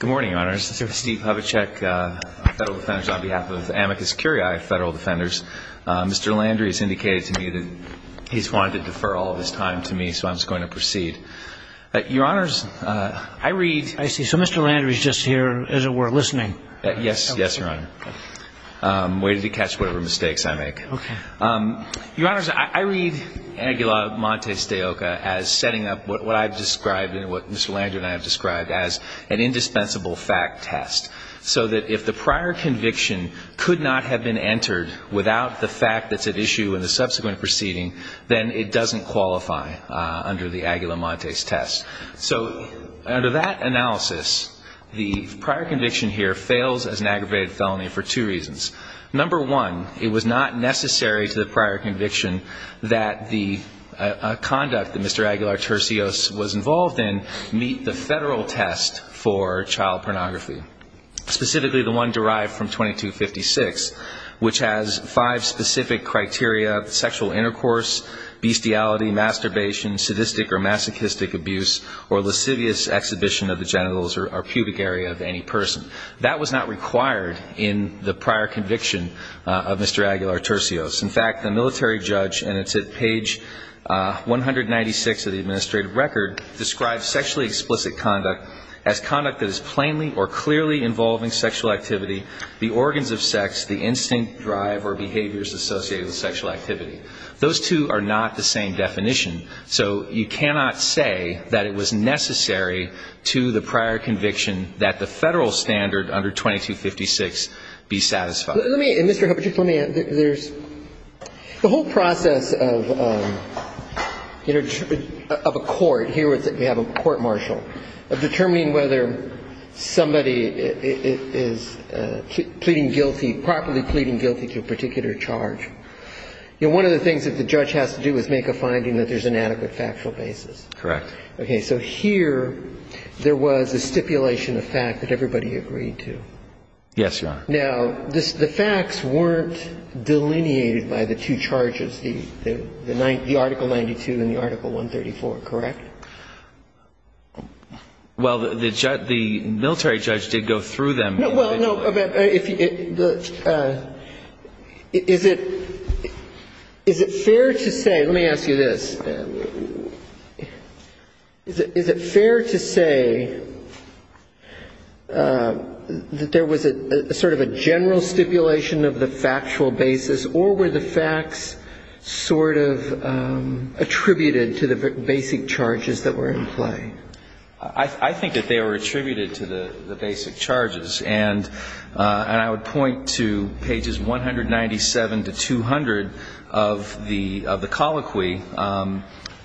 Good morning, Your Honors. This is Steve Havacek, Federal Defenders, on behalf of Amicus Curiae Federal Defenders. Mr. Landry has indicated to me that he's wanted to defer all of his time to me, so I'm just going to proceed. Your Honors, I read… I see. So Mr. Landry is just here, as it were, listening. Yes. Yes, Your Honor. I'm waiting to catch whatever mistakes I make. Okay. Your Honors, I read Aguilar-Montes de Oca as setting up what I've described and what Mr. Landry and I have described as an indispensable fact test, so that if the prior conviction could not have been entered without the fact that's at issue in the subsequent proceeding, then it doesn't qualify under the Aguilar-Montes test. So under that analysis, the prior conviction here fails as an aggravated felony for two reasons. Number one, it was not necessary to the prior conviction that the conduct that Mr. Aguilar-Turcios was involved in meet the federal test for child pornography, specifically the one derived from 2256, which has five specific criteria, sexual intercourse, bestiality, masturbation, sadistic or masochistic abuse, or lascivious exhibition of the genitals or pubic area of any person. That was not required in the prior conviction of Mr. Aguilar-Turcios. In fact, the military judge, and it's at page 196 of the administrative record, describes sexually explicit conduct as conduct that is plainly or clearly involving sexual activity, the organs of sex, the instinct, drive, or behaviors associated with sexual activity. Those two are not the same definition. So you cannot say that it was necessary to the prior conviction that the federal standard under 2256 be satisfied. Let me, Mr. Hubbard, just let me, there's, the whole process of, you know, of a court, here we have a court-martial, of determining whether somebody is pleading guilty, properly pleading guilty to a particular charge. You know, one of the things that the judge has to do is make a finding that there's an adequate factual basis. Correct. Okay. So here there was a stipulation of fact that everybody agreed to. Yes, Your Honor. Now, the facts weren't delineated by the two charges, the article 92 and the article 134, correct? Well, the military judge did go through them. Well, no, but if you, is it, is it fair to say, let me ask you this. Is it fair to say that there was a sort of a general stipulation of the factual basis, or were the facts sort of attributed to the basic charges that were in play? I think that they were attributed to the basic charges. And I would point to pages 197 to 200 of the colloquy.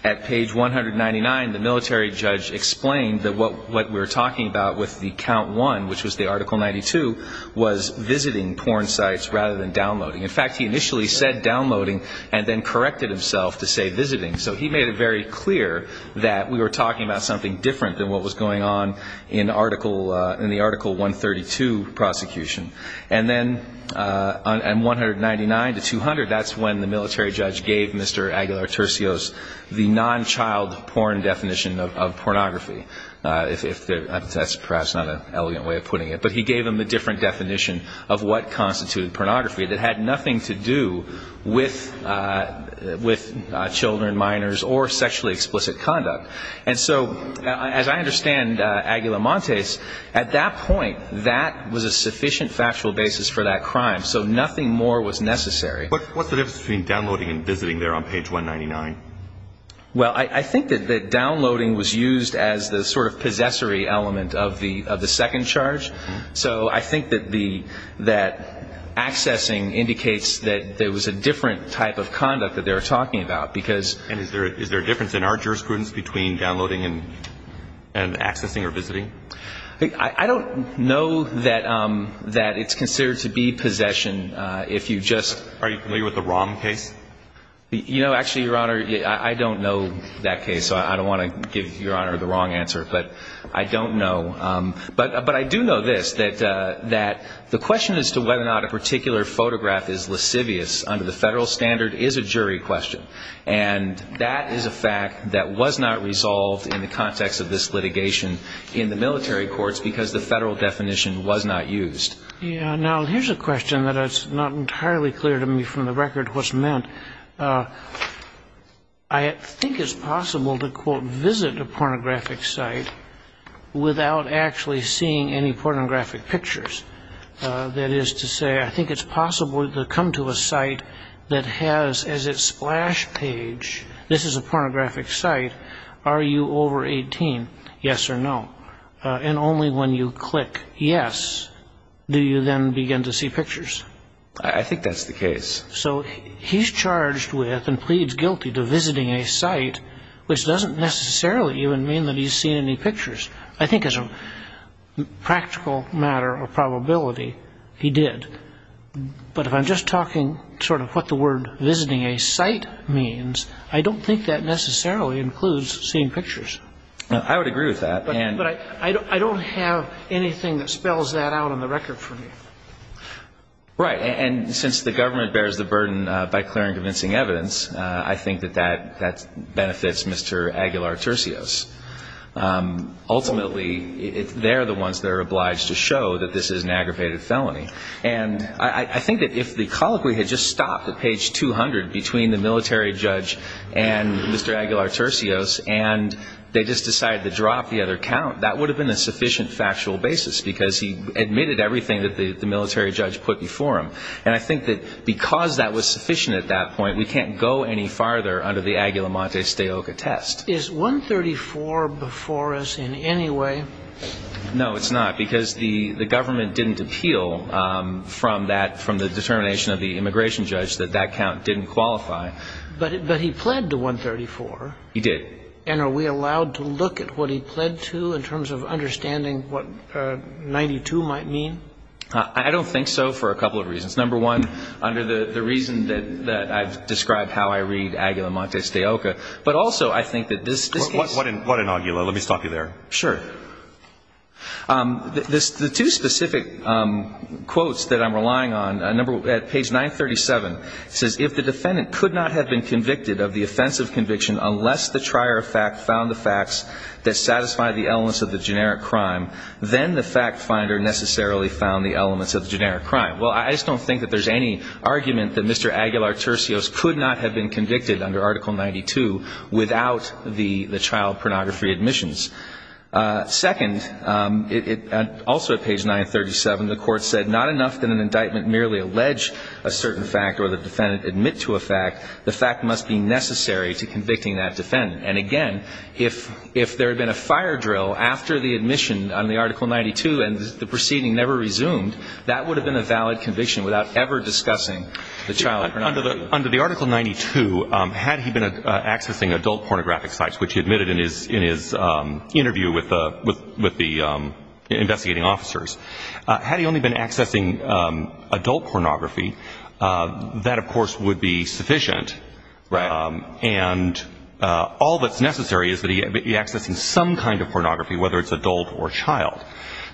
At page 199, the military judge explained that what we were talking about with the count one, which was the article 92, was visiting porn sites rather than downloading. In fact, he initially said downloading and then corrected himself to say visiting. So he made it very clear that we were talking about something different than what was going on in the article 132 prosecution. And then on 199 to 200, that's when the military judge gave Mr. Aguilar-Turcios the non-child porn definition of pornography. That's perhaps not an elegant way of putting it. But he gave him a different definition of what constituted pornography that had nothing to do with children, minors, or sexually explicit conduct. And so, as I understand Aguilar-Montes, at that point, that was a sufficient factual basis for that crime. So nothing more was necessary. What's the difference between downloading and visiting there on page 199? Well, I think that downloading was used as the sort of possessory element of the second charge. So I think that accessing indicates that there was a different type of conduct that they were talking about. And is there a difference in our jurisprudence between downloading and accessing or visiting? I don't know that it's considered to be possession. Are you familiar with the ROM case? You know, actually, Your Honor, I don't know that case, so I don't want to give Your Honor the wrong answer. But I don't know. But I do know this, that the question as to whether or not a particular photograph is lascivious under the federal standard is a jury question. And that is a fact that was not resolved in the context of this litigation in the military courts because the federal definition was not used. Yeah. Now, here's a question that is not entirely clear to me from the record what's meant. I think it's possible to, quote, visit a pornographic site without actually seeing any pornographic pictures. That is to say, I think it's possible to come to a site that has as its splash page, this is a pornographic site, are you over 18, yes or no? And only when you click yes do you then begin to see pictures. I think that's the case. So he's charged with and pleads guilty to visiting a site, which doesn't necessarily even mean that he's seen any pictures. I think as a practical matter of probability, he did. But if I'm just talking sort of what the word visiting a site means, I don't think that necessarily includes seeing pictures. I would agree with that. But I don't have anything that spells that out on the record for me. Right. And since the government bears the burden by clearing convincing evidence, I think that that benefits Mr. Aguilar-Turcios. Ultimately, they're the ones that are obliged to show that this is an aggravated felony. And I think that if the colloquy had just stopped at page 200 between the military judge and Mr. Aguilar-Turcios and they just decided to drop the other count, that would have been a sufficient factual basis because he admitted everything that the military judge put before him. And I think that because that was sufficient at that point, we can't go any farther under the Aguilar-Montes de Oca test. Is 134 before us in any way? No, it's not, because the government didn't appeal from that, from the determination of the immigration judge that that count didn't qualify. But he pled to 134. He did. And are we allowed to look at what he pled to in terms of understanding what 92 might mean? I don't think so for a couple of reasons. Number one, under the reason that I've described how I read Aguilar-Montes de Oca, but also I think that this case. What in Aguilar? Let me stop you there. Sure. The two specific quotes that I'm relying on, at page 937, it says, if the defendant could not have been convicted of the offensive conviction unless the trier of fact found the facts that satisfy the elements of the generic crime, then the fact finder necessarily found the elements of the generic crime. Well, I just don't think that there's any argument that Mr. Aguilar-Turcios could not have been convicted under Article 92 without the child pornography admissions. Second, also at page 937, the Court said, not enough that an indictment merely allege a certain fact or the defendant admit to a fact, the fact must be necessary to convicting that defendant. And, again, if there had been a fire drill after the admission on the Article 92 and the proceeding never resumed, that would have been a valid conviction without ever discussing the child pornography. Under the Article 92, had he been accessing adult pornographic sites, which he admitted in his interview with the investigating officers, had he only been accessing adult pornography, that, of course, would be sufficient. Right. And all that's necessary is that he be accessing some kind of pornography, whether it's adult or child.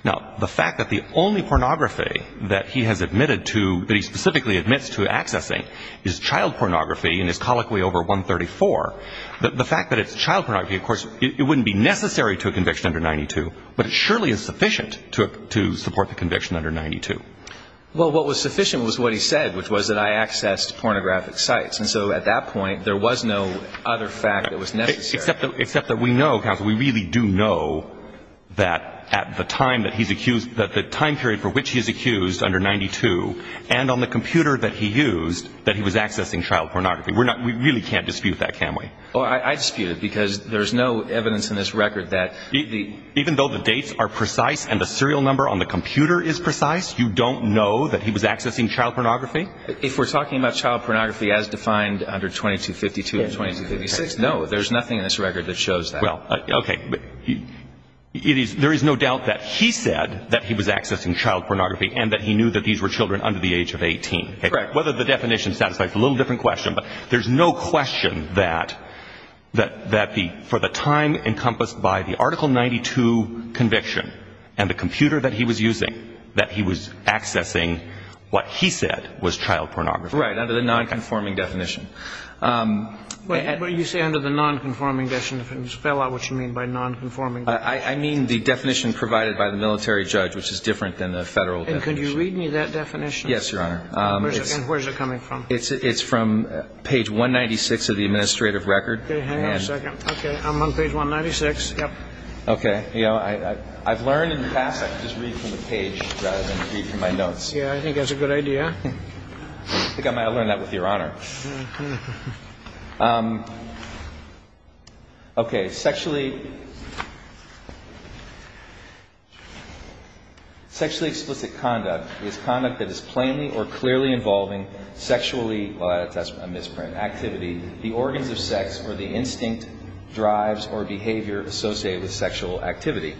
Now, the fact that the only pornography that he has admitted to, that he specifically admits to accessing is child pornography and is colloquially over 134, the fact that it's child pornography, of course, it wouldn't be necessary to a conviction under 92, but it surely is sufficient to support the conviction under 92. Well, what was sufficient was what he said, which was that I accessed pornographic sites. And so at that point, there was no other fact that was necessary. Except that we know, counsel, we really do know that at the time that he's accused, that the time period for which he's accused under 92 and on the computer that he used, that he was accessing child pornography. We really can't dispute that, can we? Well, I dispute it because there's no evidence in this record that the – Even though the dates are precise and the serial number on the computer is precise, you don't know that he was accessing child pornography? If we're talking about child pornography as defined under 2252 and 2256, no, there's nothing in this record that shows that. Well, okay. There is no doubt that he said that he was accessing child pornography and that he knew that these were children under the age of 18. Correct. Whether the definition satisfies a little different question, but there's no question that for the time encompassed by the Article 92 conviction and the computer that he was using, that he was accessing what he said was child pornography. Right, under the nonconforming definition. When you say under the nonconforming definition, spell out what you mean by nonconforming definition. I mean the definition provided by the military judge, which is different than the federal definition. And can you read me that definition? Yes, Your Honor. And where's it coming from? It's from page 196 of the administrative record. Okay, hang on a second. Okay, I'm on page 196, yep. Okay. You know, I've learned in the past I can just read from the page rather than read from my notes. Yeah, I think that's a good idea. I think I might have learned that with Your Honor. Okay, sexually explicit conduct is conduct that is plainly or clearly involving sexually, well, that's a misprint, activity, the organs of sex, or the instinct, drives, or behavior associated with sexual activity.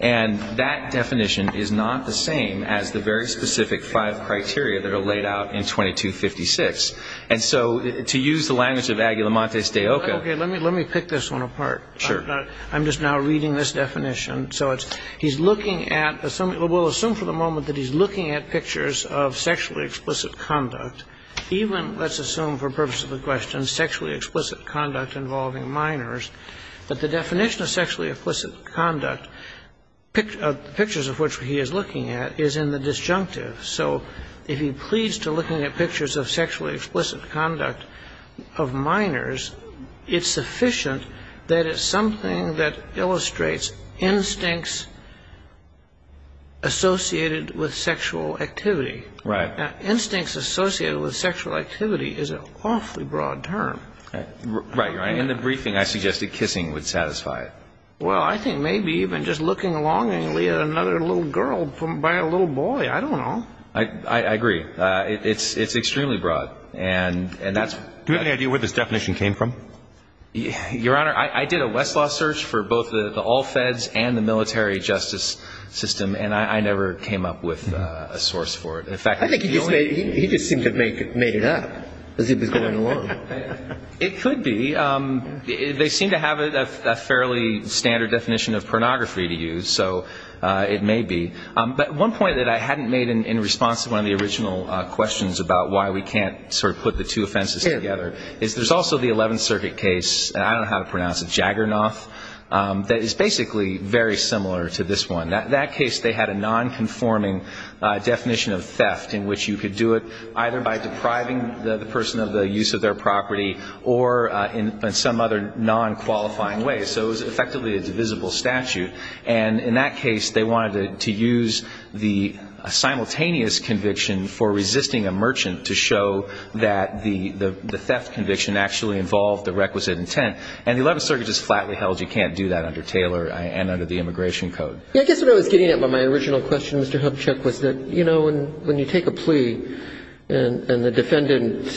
And that definition is not the same as the very specific five criteria that are laid out in 2256. And so to use the language of Aguila Montes de Oca. Okay, let me pick this one apart. Sure. I'm just now reading this definition. So he's looking at, we'll assume for the moment that he's looking at pictures of sexually explicit conduct, even let's assume for purposes of the question sexually explicit conduct involving minors, that the definition of sexually explicit conduct, pictures of which he is looking at, is in the disjunctive. So if he pleads to looking at pictures of sexually explicit conduct of minors, it's sufficient that it's something that illustrates instincts associated with sexual activity. Right. Instincts associated with sexual activity is an awfully broad term. Right, Your Honor. In the briefing, I suggested kissing would satisfy it. Well, I think maybe even just looking longingly at another little girl by a little boy. I don't know. I agree. It's extremely broad. Do we have any idea where this definition came from? Your Honor, I did a Westlaw search for both the all feds and the military justice system, and I never came up with a source for it. I think he just seemed to have made it up as he was going along. It could be. They seem to have a fairly standard definition of pornography to use, so it may be. But one point that I hadn't made in response to one of the original questions about why we can't sort of put the two offenses together is there's also the Eleventh Circuit case, and I don't know how to pronounce it, Jagernoth, that is basically very similar to this one. That case, they had a nonconforming definition of theft in which you could do it either by depriving the person of the use of their property or in some other nonqualifying way. So it was effectively a divisible statute. And in that case, they wanted to use the simultaneous conviction for resisting a merchant to show that the theft conviction actually involved the requisite intent. And the Eleventh Circuit just flatly held you can't do that under Taylor and under the Immigration Code. I guess what I was getting at with my original question, Mr. Hubchuck, was that, you know, when you take a plea and the defendant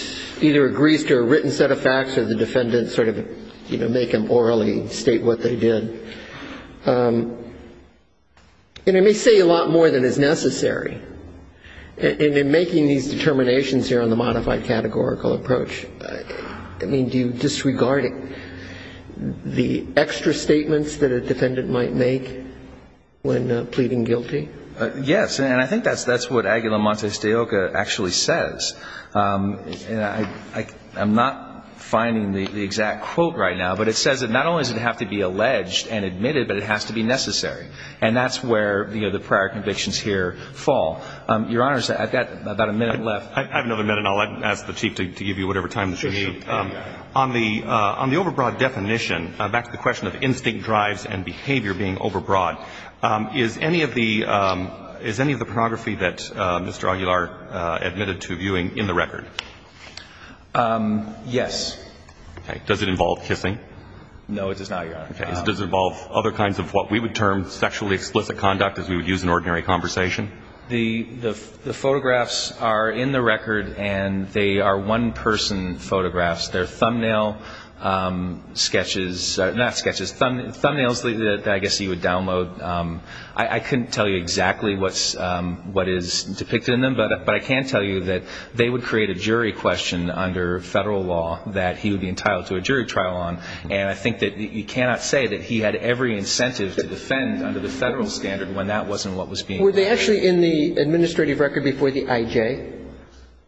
either agrees to a written set of facts or the defendant sort of, you know, make him orally state what they did, it may say a lot more than is necessary. And in making these determinations here on the modified categorical approach, I mean, do you disregard the extra statements that a defendant might make when pleading guilty? Yes. And I think that's what Aguilar Montes de Oca actually says. I'm not finding the exact quote right now, but it says that not only does it have to be alleged and admitted, but it has to be necessary. And that's where, you know, the prior convictions here fall. Your Honors, I've got about a minute left. I have another minute, and I'll ask the Chief to give you whatever time that you need. Sure, sure. On the overbroad definition, back to the question of instinct drives and behavior being overbroad, is any of the pornography that Mr. Aguilar admitted to viewing in the record? Yes. Okay. Does it involve kissing? No, it does not, Your Honor. Okay. Does it involve other kinds of what we would term sexually explicit conduct as we would use in ordinary conversation? The photographs are in the record, and they are one-person photographs. They're thumbnail sketches, not sketches, thumbnails that I guess you would download. I couldn't tell you exactly what is depicted in them, but I can tell you that they would create a jury question under federal law that he would be entitled to a jury trial on. And I think that you cannot say that he had every incentive to defend under the federal standard when that wasn't what was being done. Were they actually in the administrative record before the IJ?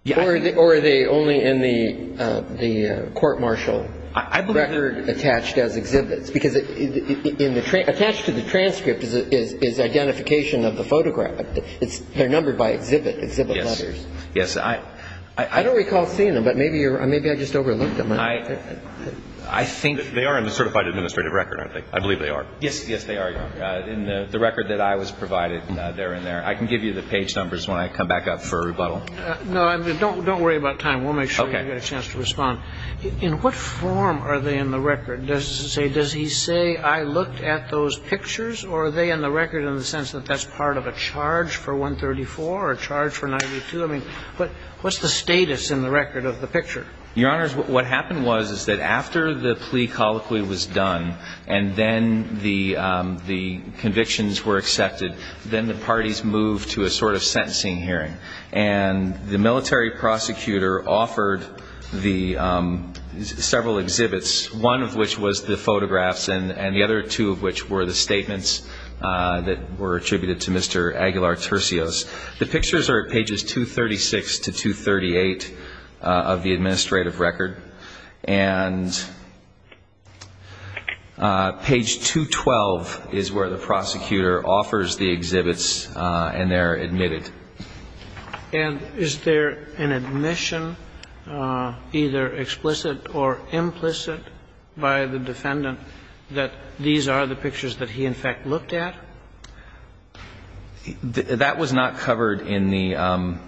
Yes. Or are they only in the court-martial record attached as exhibits? Because attached to the transcript is identification of the photograph. They're numbered by exhibit letters. Yes. I don't recall seeing them, but maybe I just overlooked them. I think they are in the certified administrative record, I believe they are. Yes, yes, they are, Your Honor, in the record that I was provided there and there. I can give you the page numbers when I come back up for rebuttal. No, I mean, don't worry about time. We'll make sure you get a chance to respond. Okay. In what form are they in the record? Does it say, does he say, I looked at those pictures, or are they in the record in the sense that that's part of a charge for 134 or a charge for 92? I mean, what's the status in the record of the picture? Your Honors, what happened was is that after the plea colloquy was done and then the convictions were accepted, then the parties moved to a sort of sentencing hearing, and the military prosecutor offered the several exhibits, one of which was the photographs and the other two of which were the statements that were attributed to Mr. Aguilar-Turcios. The pictures are at pages 236 to 238 of the administrative record, and page 212 is where the prosecutor offers the exhibits and they're admitted. And is there an admission, either explicit or implicit, by the defendant that these are the pictures that he, in fact, looked at? That was not covered in the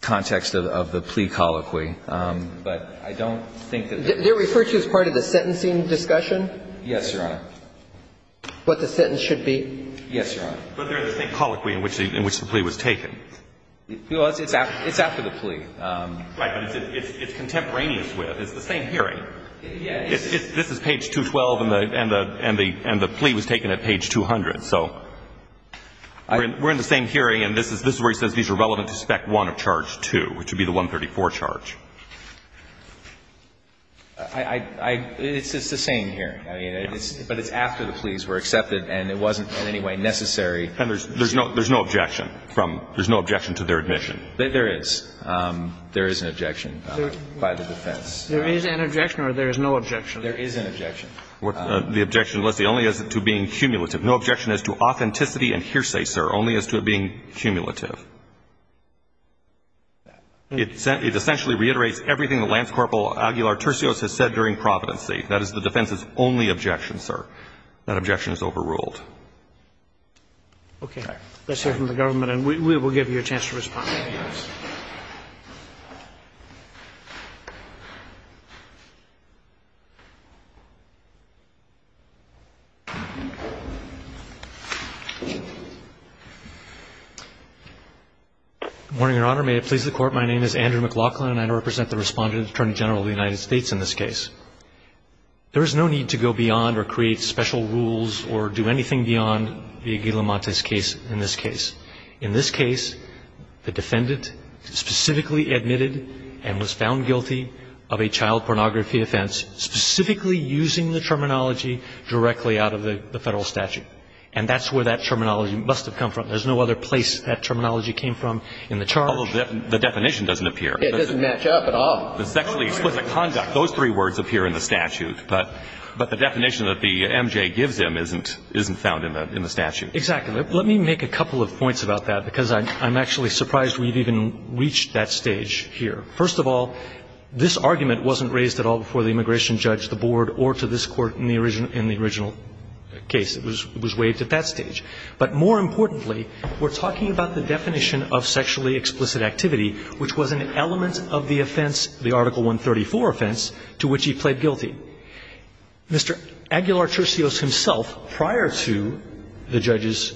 context of the plea colloquy, but I don't think that there is. They're referred to as part of the sentencing discussion? Yes, Your Honor. What the sentence should be? Yes, Your Honor. But they're in the same colloquy in which the plea was taken. It's after the plea. Right, but it's contemporaneous with. It's the same hearing. This is page 212 and the plea was taken at page 200. So we're in the same hearing and this is where he says these are relevant to spec 1 of charge 2, which would be the 134 charge. It's the same hearing. I mean, but it's after the pleas were accepted and it wasn't in any way necessary. And there's no objection to their admission? There is. There is an objection by the defense. There is an objection or there is no objection? There is an objection. The objection, Leslie, only as to being cumulative. No objection as to authenticity and hearsay, sir, only as to it being cumulative. It essentially reiterates everything that Lance Corporal Aguilar-Turcios has said during Providency. That is the defense's only objection, sir. That objection is overruled. Okay. Let's hear from the government and we will give you a chance to respond. Thank you, Your Honor. Good morning, Your Honor. May it please the Court, my name is Andrew McLaughlin and I represent the Respondent Attorney General of the United States in this case. There is no need to go beyond or create special rules or do anything beyond the Aguilar-Montes case in this case. In this case, the defendant specifically admitted and was found guilty of a child pornography offense, specifically using the terminology directly out of the Federal statute. And that's where that terminology must have come from. There is no other place that terminology came from in the charge. Although the definition doesn't appear. It doesn't match up at all. The sexually explicit conduct, those three words appear in the statute. But the definition that the MJ gives him isn't found in the statute. Exactly. Let me make a couple of points about that, because I'm actually surprised we've even reached that stage here. First of all, this argument wasn't raised at all before the immigration judge, the board, or to this Court in the original case. It was waived at that stage. But more importantly, we're talking about the definition of sexually explicit activity, which was an element of the offense, the Article 134 offense, to which he pled guilty. Mr. Aguilar-Churcios himself, prior to the judge's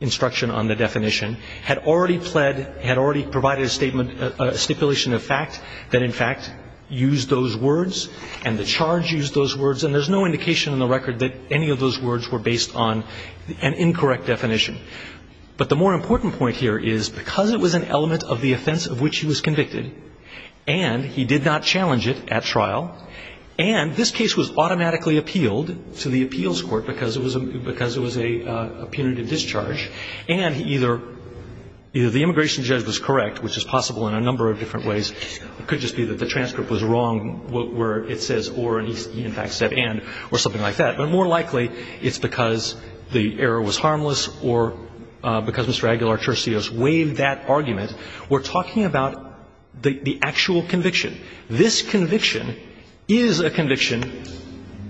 instruction on the definition, had already pled, had already provided a statement, a stipulation of fact that, in fact, used those words, and the charge used those words, and there's no indication in the record that any of those words were based on an incorrect definition. But the more important point here is, because it was an element of the offense of which he was convicted, and he did not challenge it at trial, and this case was automatically appealed to the appeals court because it was a punitive discharge, and either the immigration judge was correct, which is possible in a number of different ways. It could just be that the transcript was wrong where it says or, and he, in fact, said and, or something like that. But more likely it's because the error was harmless or because Mr. Aguilar-Churcios waived that argument. We're talking about the, the actual conviction. This conviction is a conviction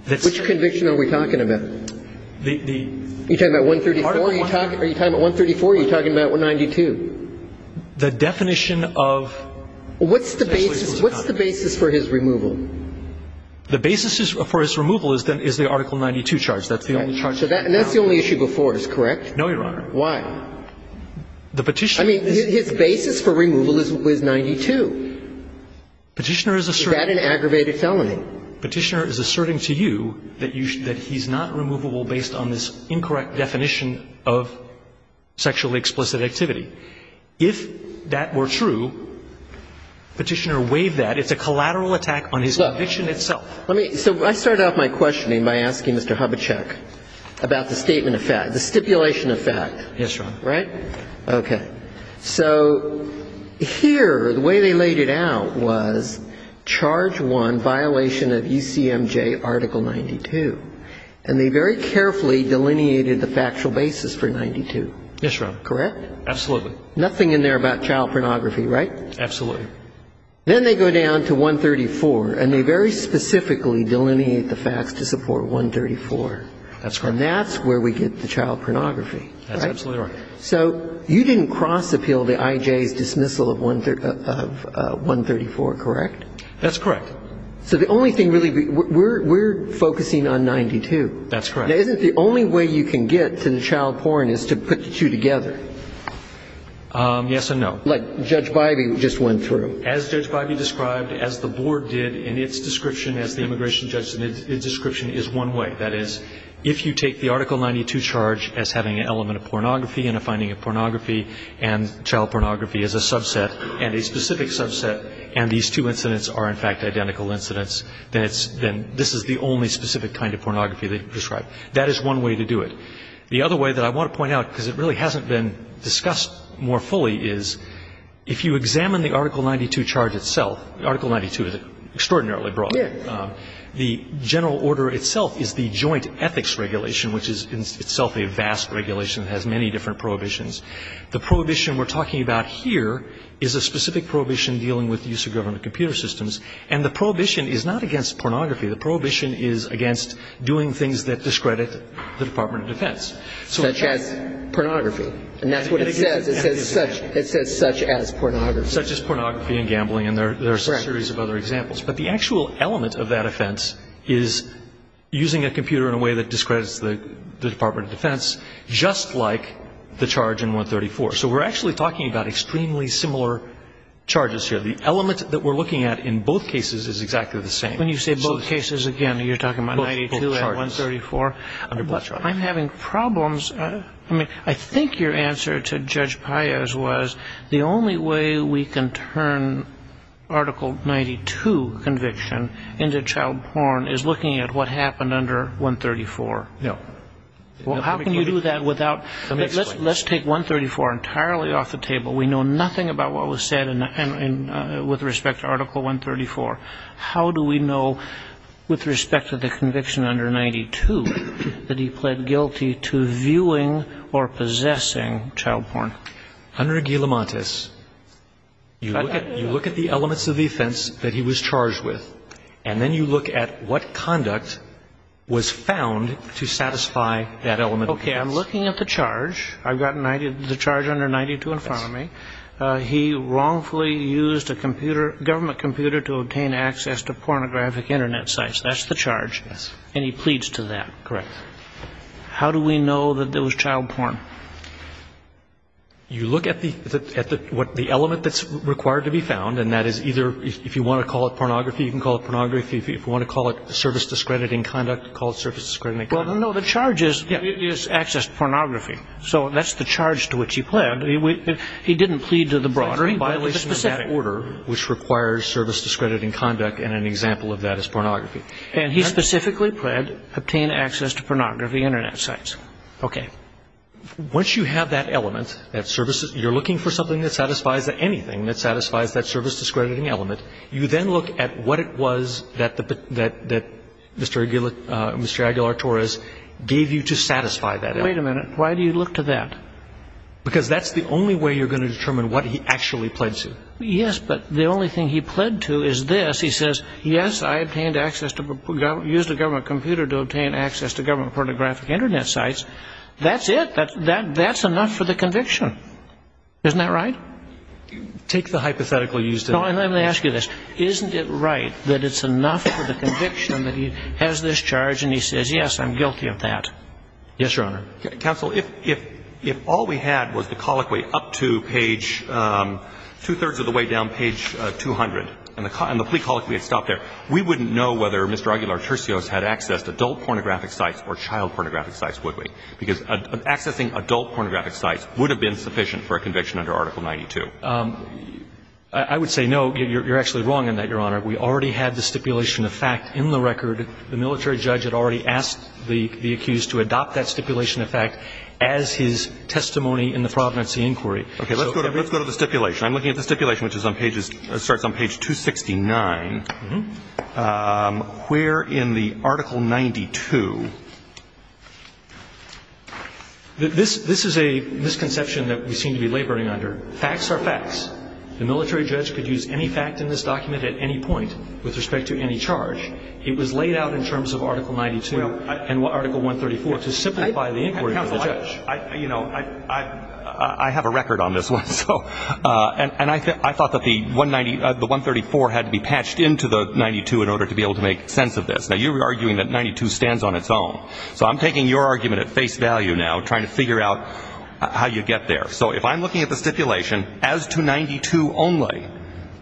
that's. Which conviction are we talking about? The, the. You're talking about 134? Article 134. Are you talking about 134 or are you talking about 192? The definition of. What's the basis, what's the basis for his removal? The basis for his removal is then, is the Article 92 charge. That's the only charge. And that's the only issue before us, correct? No, Your Honor. The petition. I mean, his basis for removal is, was 92. Petitioner is asserting. Is that an aggravated felony? Petitioner is asserting to you that you, that he's not removable based on this incorrect definition of sexually explicit activity. If that were true, Petitioner waived that. It's a collateral attack on his conviction itself. Let me, so I started off my questioning by asking Mr. Hubachek about the statement of fact, the stipulation of fact. Yes, Your Honor. Right? Okay. So here, the way they laid it out was charge one, violation of UCMJ Article 92. And they very carefully delineated the factual basis for 92. Yes, Your Honor. Correct? Absolutely. Nothing in there about child pornography, right? Absolutely. Then they go down to 134, and they very specifically delineate the facts to support 134. That's correct. And that's where we get the child pornography. That's absolutely right. So you didn't cross-appeal the IJ's dismissal of 134, correct? That's correct. So the only thing really, we're focusing on 92. That's correct. Now, isn't the only way you can get to the child porn is to put the two together? Yes and no. Like Judge Bybee just went through. As Judge Bybee described, as the board did, and its description as the immigration judge, its description is one way. That is, if you take the Article 92 charge as having an element of pornography and a finding of pornography and child pornography as a subset, and a specific subset, and these two incidents are, in fact, identical incidents, then it's the only specific kind of pornography that you can describe. That is one way to do it. The other way that I want to point out, because it really hasn't been discussed more fully, is if you examine the Article 92 charge itself, Article 92 is extraordinarily broad. Yes. The general order itself is the joint ethics regulation, which is itself a vast regulation. It has many different prohibitions. The prohibition we're talking about here is a specific prohibition dealing with the use of government computer systems. And the prohibition is not against pornography. The prohibition is against doing things that discredit the Department of Defense. Such as pornography. And that's what it says. It says such as pornography. Such as pornography and gambling. Correct. And there's a series of other examples. But the actual element of that offense is using a computer in a way that discredits the Department of Defense, just like the charge in 134. So we're actually talking about extremely similar charges here. The element that we're looking at in both cases is exactly the same. When you say both cases, again, you're talking about 92 and 134. Both charges. But I'm having problems. I think your answer to Judge Paez was the only way we can turn Article 92 conviction into child porn is looking at what happened under 134. No. Well, how can you do that without? Let's take 134 entirely off the table. We know nothing about what was said with respect to Article 134. How do we know with respect to the conviction under 92 that he pled guilty to view or possessing child porn? Under Aguilamontes, you look at the elements of offense that he was charged with. And then you look at what conduct was found to satisfy that element of offense. Okay. I'm looking at the charge. I've got the charge under 92 in front of me. He wrongfully used a government computer to obtain access to pornographic Internet sites. That's the charge. And he pleads to that. Correct. How do we know that there was child porn? You look at the element that's required to be found, and that is either, if you want to call it pornography, you can call it pornography. If you want to call it service discrediting conduct, call it service discrediting conduct. Well, no. The charge is access to pornography. So that's the charge to which he pled. He didn't plead to the broader. It's a violation of that order, which requires service discrediting conduct. And an example of that is pornography. And he specifically pled obtain access to pornography Internet sites. Okay. Once you have that element, you're looking for something that satisfies anything that satisfies that service discrediting element, you then look at what it was that Mr. Aguilar-Torres gave you to satisfy that element. Wait a minute. Why do you look to that? Because that's the only way you're going to determine what he actually pled to. Yes, but the only thing he pled to is this. He says, yes, I obtained access to use the government computer to obtain access to government pornographic Internet sites. That's it. That's enough for the conviction. Isn't that right? Take the hypothetical use. No, and let me ask you this. Isn't it right that it's enough for the conviction that he has this charge and he says, yes, I'm guilty of that? Yes, Your Honor. Counsel, if all we had was the colloquy up to page two-thirds of the way down page 200 and the plea colloquy had stopped there, we wouldn't know whether Mr. Aguilar-Torres had accessed adult pornographic sites or child pornographic sites, would we? Because accessing adult pornographic sites would have been sufficient for a conviction under Article 92. I would say no. You're actually wrong in that, Your Honor. We already had the stipulation of fact in the record. The military judge had already asked the accused to adopt that stipulation of fact as his testimony in the Providency Inquiry. Let's go to the stipulation. I'm looking at the stipulation, which starts on page 269. Where in the Article 92? This is a misconception that we seem to be laboring under. Facts are facts. The military judge could use any fact in this document at any point with respect to any charge. It was laid out in terms of Article 92 and Article 134 to simplify the inquiry of the judge. I have a record on this one. And I thought that the 134 had to be patched into the 92 in order to be able to make sense of this. Now, you're arguing that 92 stands on its own. So I'm taking your argument at face value now, trying to figure out how you get there. So if I'm looking at the stipulation as to 92 only,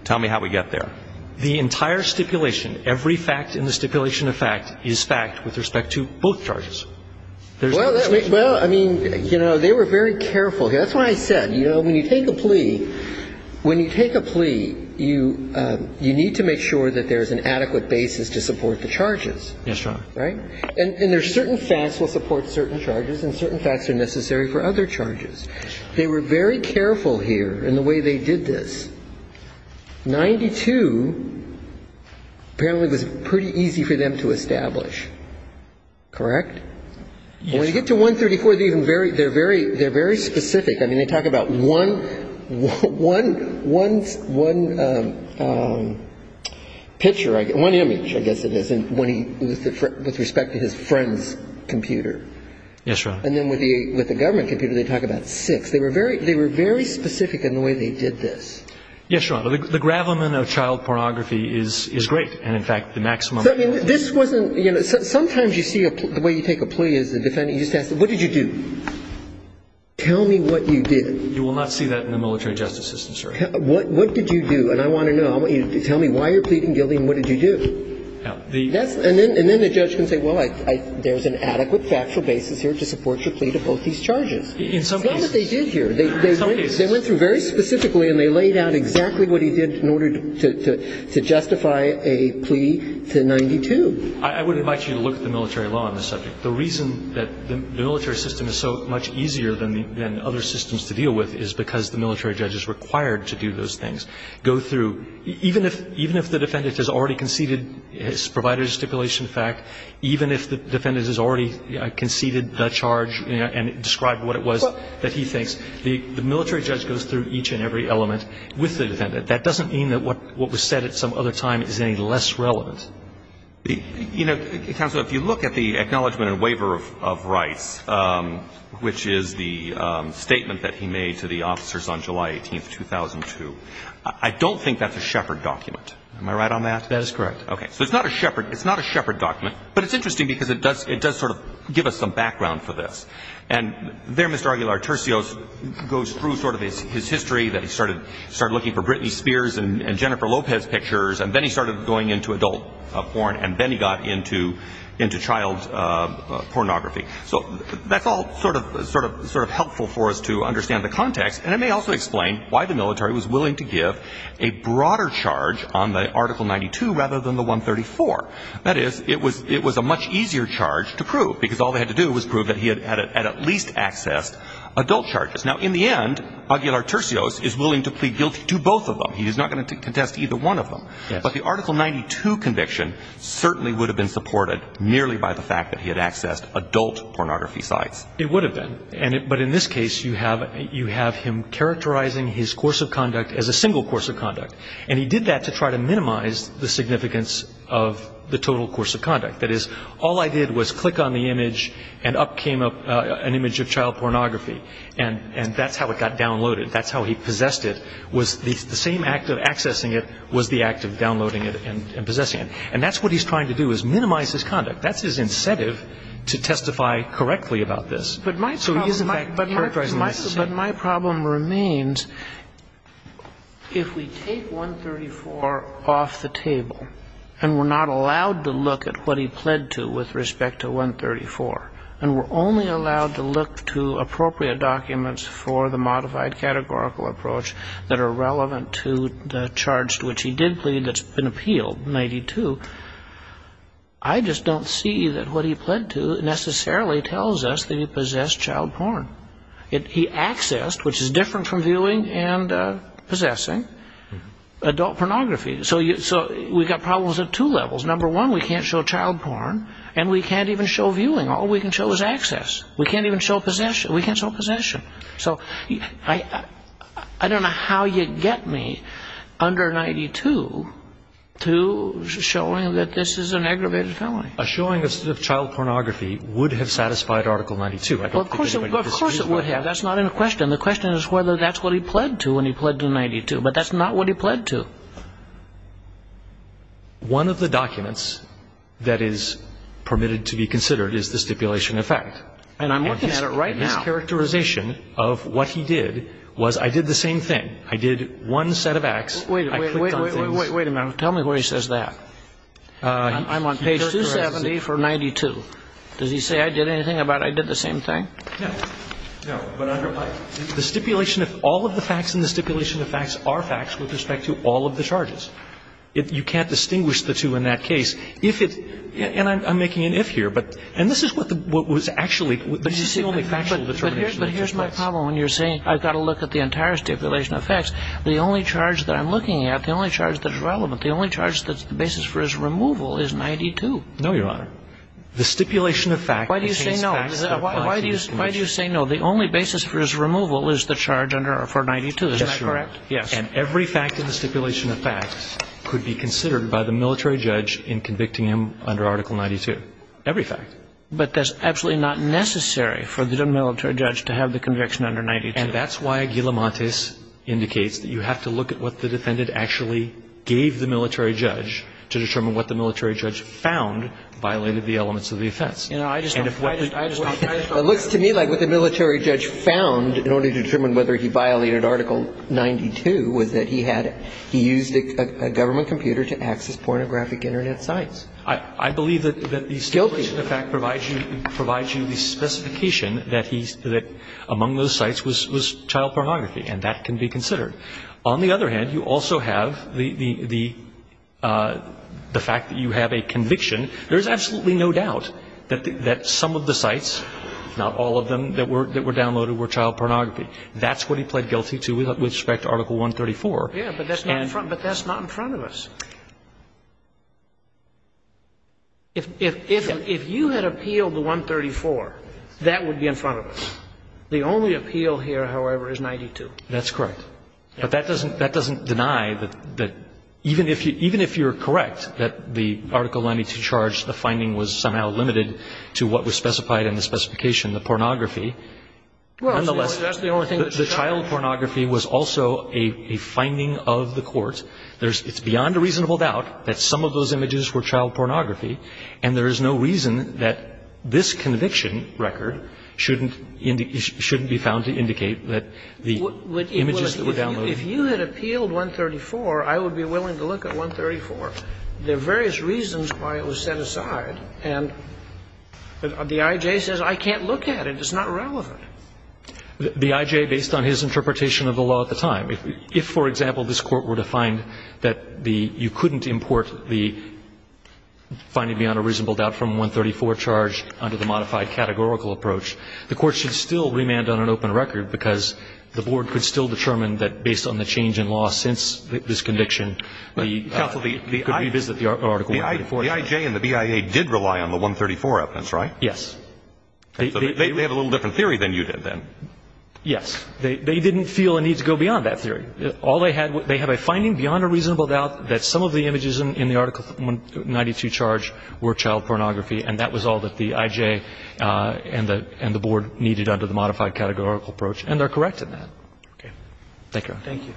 tell me how we get there. The entire stipulation, every fact in the stipulation of fact is fact with respect to both charges. Well, I mean, you know, they were very careful here. That's why I said, you know, when you take a plea, when you take a plea, you need to make sure that there's an adequate basis to support the charges. Yes, Your Honor. Right? And there's certain facts will support certain charges, and certain facts are necessary for other charges. They were very careful here in the way they did this. 92 apparently was pretty easy for them to establish. Correct? Yes. When you get to 134, they're very specific. I mean, they talk about one picture, one image, I guess it is, with respect to his friend's computer. Yes, Your Honor. And then with the government computer, they talk about six. They were very specific in the way they did this. Yes, Your Honor. The gravelman of child pornography is great, and, in fact, the maximum. I mean, this wasn't, you know, sometimes you see the way you take a plea as a defendant. You just ask, what did you do? Tell me what you did. You will not see that in the military justice system, sir. What did you do? And I want to know. I want you to tell me why you're pleading guilty and what did you do. And then the judge can say, well, there's an adequate factual basis here to support your plea to both these charges. In some cases. It's not what they did here. In some cases. They went through very specifically and they laid out exactly what he did in order to justify a plea to 92. I would invite you to look at the military law on this subject. The reason that the military system is so much easier than other systems to deal with is because the military judge is required to do those things. Go through. Even if the defendant has already conceded his provider's stipulation fact, even if the defendant has already conceded the charge and described what it was that he thinks, the military judge goes through each and every element with the defendant. That doesn't mean that what was said at some other time is any less relevant. You know, counsel, if you look at the acknowledgement and waiver of rights, which is the statement that he made to the officers on July 18, 2002, I don't think that's a Shepard document. Am I right on that? That is correct. Okay. So it's not a Shepard. It's not a Shepard document. But it's interesting because it does sort of give us some background for this. And there Mr. Aguilar-Turcios goes through sort of his history, that he started looking for Britney Spears and Jennifer Lopez pictures, and then he started going into adult porn, and then he got into child pornography. So that's all sort of helpful for us to understand the context. And it may also explain why the military was willing to give a broader charge on the Article 92 rather than the 134. That is, it was a much easier charge to prove, because all they had to do was prove that he had at least accessed adult charges. Now, in the end, Aguilar-Turcios is willing to plead guilty to both of them. He is not going to contest either one of them. But the Article 92 conviction certainly would have been supported merely by the fact that he had accessed adult pornography sites. It would have been. But in this case, you have him characterizing his course of conduct as a single course of conduct. And he did that to try to minimize the significance of the total course of conduct. That is, all I did was click on the image, and up came an image of child pornography. And that's how it got downloaded. That's how he possessed it, was the same act of accessing it was the act of downloading it and possessing it. And that's what he's trying to do, is minimize his conduct. That's his incentive to testify correctly about this. So he is, in fact, characterizing it as the same. But my problem remains, if we take 134 off the table, and we're not allowed to look at what he pled to with respect to 134, and we're only allowed to look to appropriate documents for the modified categorical approach that are relevant to the charge to which he did plead that's been appealed, 92, I just don't see that what he pled to necessarily tells us that he possessed child porn. He accessed, which is different from viewing and possessing, adult pornography. So we've got problems at two levels. Number one, we can't show child porn, and we can't even show viewing. All we can show is access. We can't even show possession. We can't show possession. So I don't know how you get me under 92 to showing that this is an aggravated felony. A showing of child pornography would have satisfied Article 92. I don't think anybody disagrees with that. Well, of course it would have. That's not in the question. The question is whether that's what he pled to when he pled to 92. But that's not what he pled to. One of the documents that is permitted to be considered is the stipulation effect. And I'm looking at it right now. And his characterization of what he did was, I did the same thing. I did one set of acts. Wait a minute. Wait a minute. Tell me where he says that. I'm on page 270 for 92. Does he say I did anything about I did the same thing? No. No. But under Pike, the stipulation of all of the facts and the stipulation of facts are facts with respect to all of the charges. You can't distinguish the two in that case. If it's ‑‑ and I'm making an if here. And this is what was actually ‑‑ But here's my problem when you're saying I've got to look at the entire stipulation of facts. The only charge that I'm looking at, the only charge that's relevant, the only charge that's the basis for his removal is 92. No, Your Honor. The stipulation of facts. Why do you say no? Why do you say no? The only basis for his removal is the charge for 92. Is that correct? Yes. And every fact in the stipulation of facts could be considered by the military judge in convicting him under Article 92. Every fact. But that's absolutely not necessary for the military judge to have the conviction under 92. And that's why Aguilamantes indicates that you have to look at what the defendant actually gave the military judge to determine what the military judge found violated the elements of the offense. You know, I just don't ‑‑ It looks to me like what the military judge found in order to determine whether he violated Article 92 was that he had ‑‑ he used a government computer to access pornographic Internet sites. I believe that the stipulation of facts provides you the specification that he ‑‑ that among those sites was child pornography. And that can be considered. On the other hand, you also have the fact that you have a conviction. There is absolutely no doubt that some of the sites, not all of them, that were downloaded were child pornography. That's what he pled guilty to with respect to Article 134. Yes, but that's not in front of us. If you had appealed to 134, that would be in front of us. The only appeal here, however, is 92. That's correct. But that doesn't deny that even if you're correct that the Article 92 charge, the finding was somehow limited to what was specified in the specification, the pornography. Nonetheless, the child pornography was also a finding of the court. It's beyond a reasonable doubt that some of those images were child pornography, and there is no reason that this conviction record shouldn't be found to indicate that the images that were downloaded ‑‑ If you had appealed 134, I would be willing to look at 134. There are various reasons why it was set aside, and the I.J. says I can't look at it. It's not relevant. The I.J., based on his interpretation of the law at the time, if, for example, this Court were to find that the ‑‑ you couldn't import the finding beyond a reasonable doubt from 134 charge under the modified categorical approach, the Court should still remand on an open record because the Board could still determine that, based on the change in law since this conviction, it could revisit the Article 134. The I.J. and the BIA did rely on the 134 evidence, right? Yes. They have a little different theory than you did then. Yes. They didn't feel a need to go beyond that theory. All they had ‑‑ they had a finding beyond a reasonable doubt that some of the images in the Article 92 charge were child pornography, and that was all that the I.J. and the Board needed under the modified categorical approach, and they're correct in that. Thank you, Your Honor. Thank you.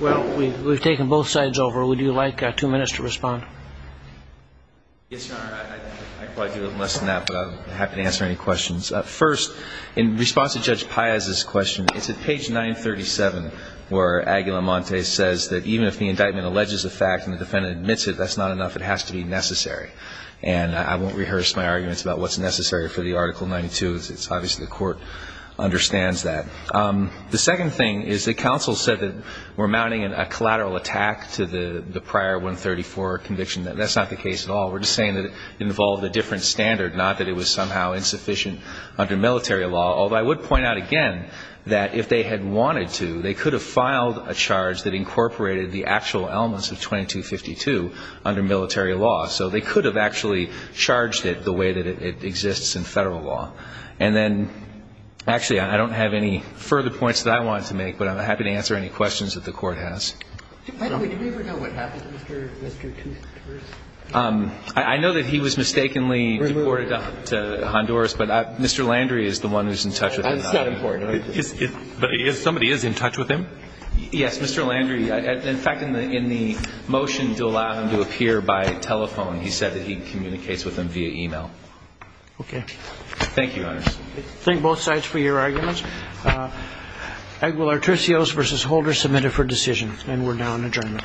Well, we've taken both sides over. Would you like two minutes to respond? Yes, Your Honor. I probably do a little less than that, but I'm happy to answer any questions. First, in response to Judge Paez's question, it's at page 937 where Aguilamonte says that even if the indictment alleges a fact and the defendant admits it, that's not enough. It has to be necessary. And I won't rehearse my arguments about what's necessary for the Article 92. It's obviously the court understands that. The second thing is that counsel said that we're mounting a collateral attack to the prior 134 conviction. That's not the case at all. We're just saying that it involved a different standard, not that it was somehow insufficient under military law, although I would point out again that if they had wanted to, they could have filed a charge that incorporated the actual elements of 2252 under military law. So they could have actually charged it the way that it exists in Federal law. And then, actually, I don't have any further points that I want to make, but I'm happy to answer any questions that the Court has. Do we ever know what happened to Mr. Toothurst? I know that he was mistakenly deported to Honduras, but Mr. Landry is the one who's in touch with him. That's not important. But somebody is in touch with him? Yes. Mr. Landry. In fact, in the motion to allow him to appear by telephone, he said that he communicates with him via e-mail. Okay. Thank you, Your Honor. Thank both sides for your arguments. Aguilar-Tricios v. Holder submitted for decision, and we're now in adjournment. All rise.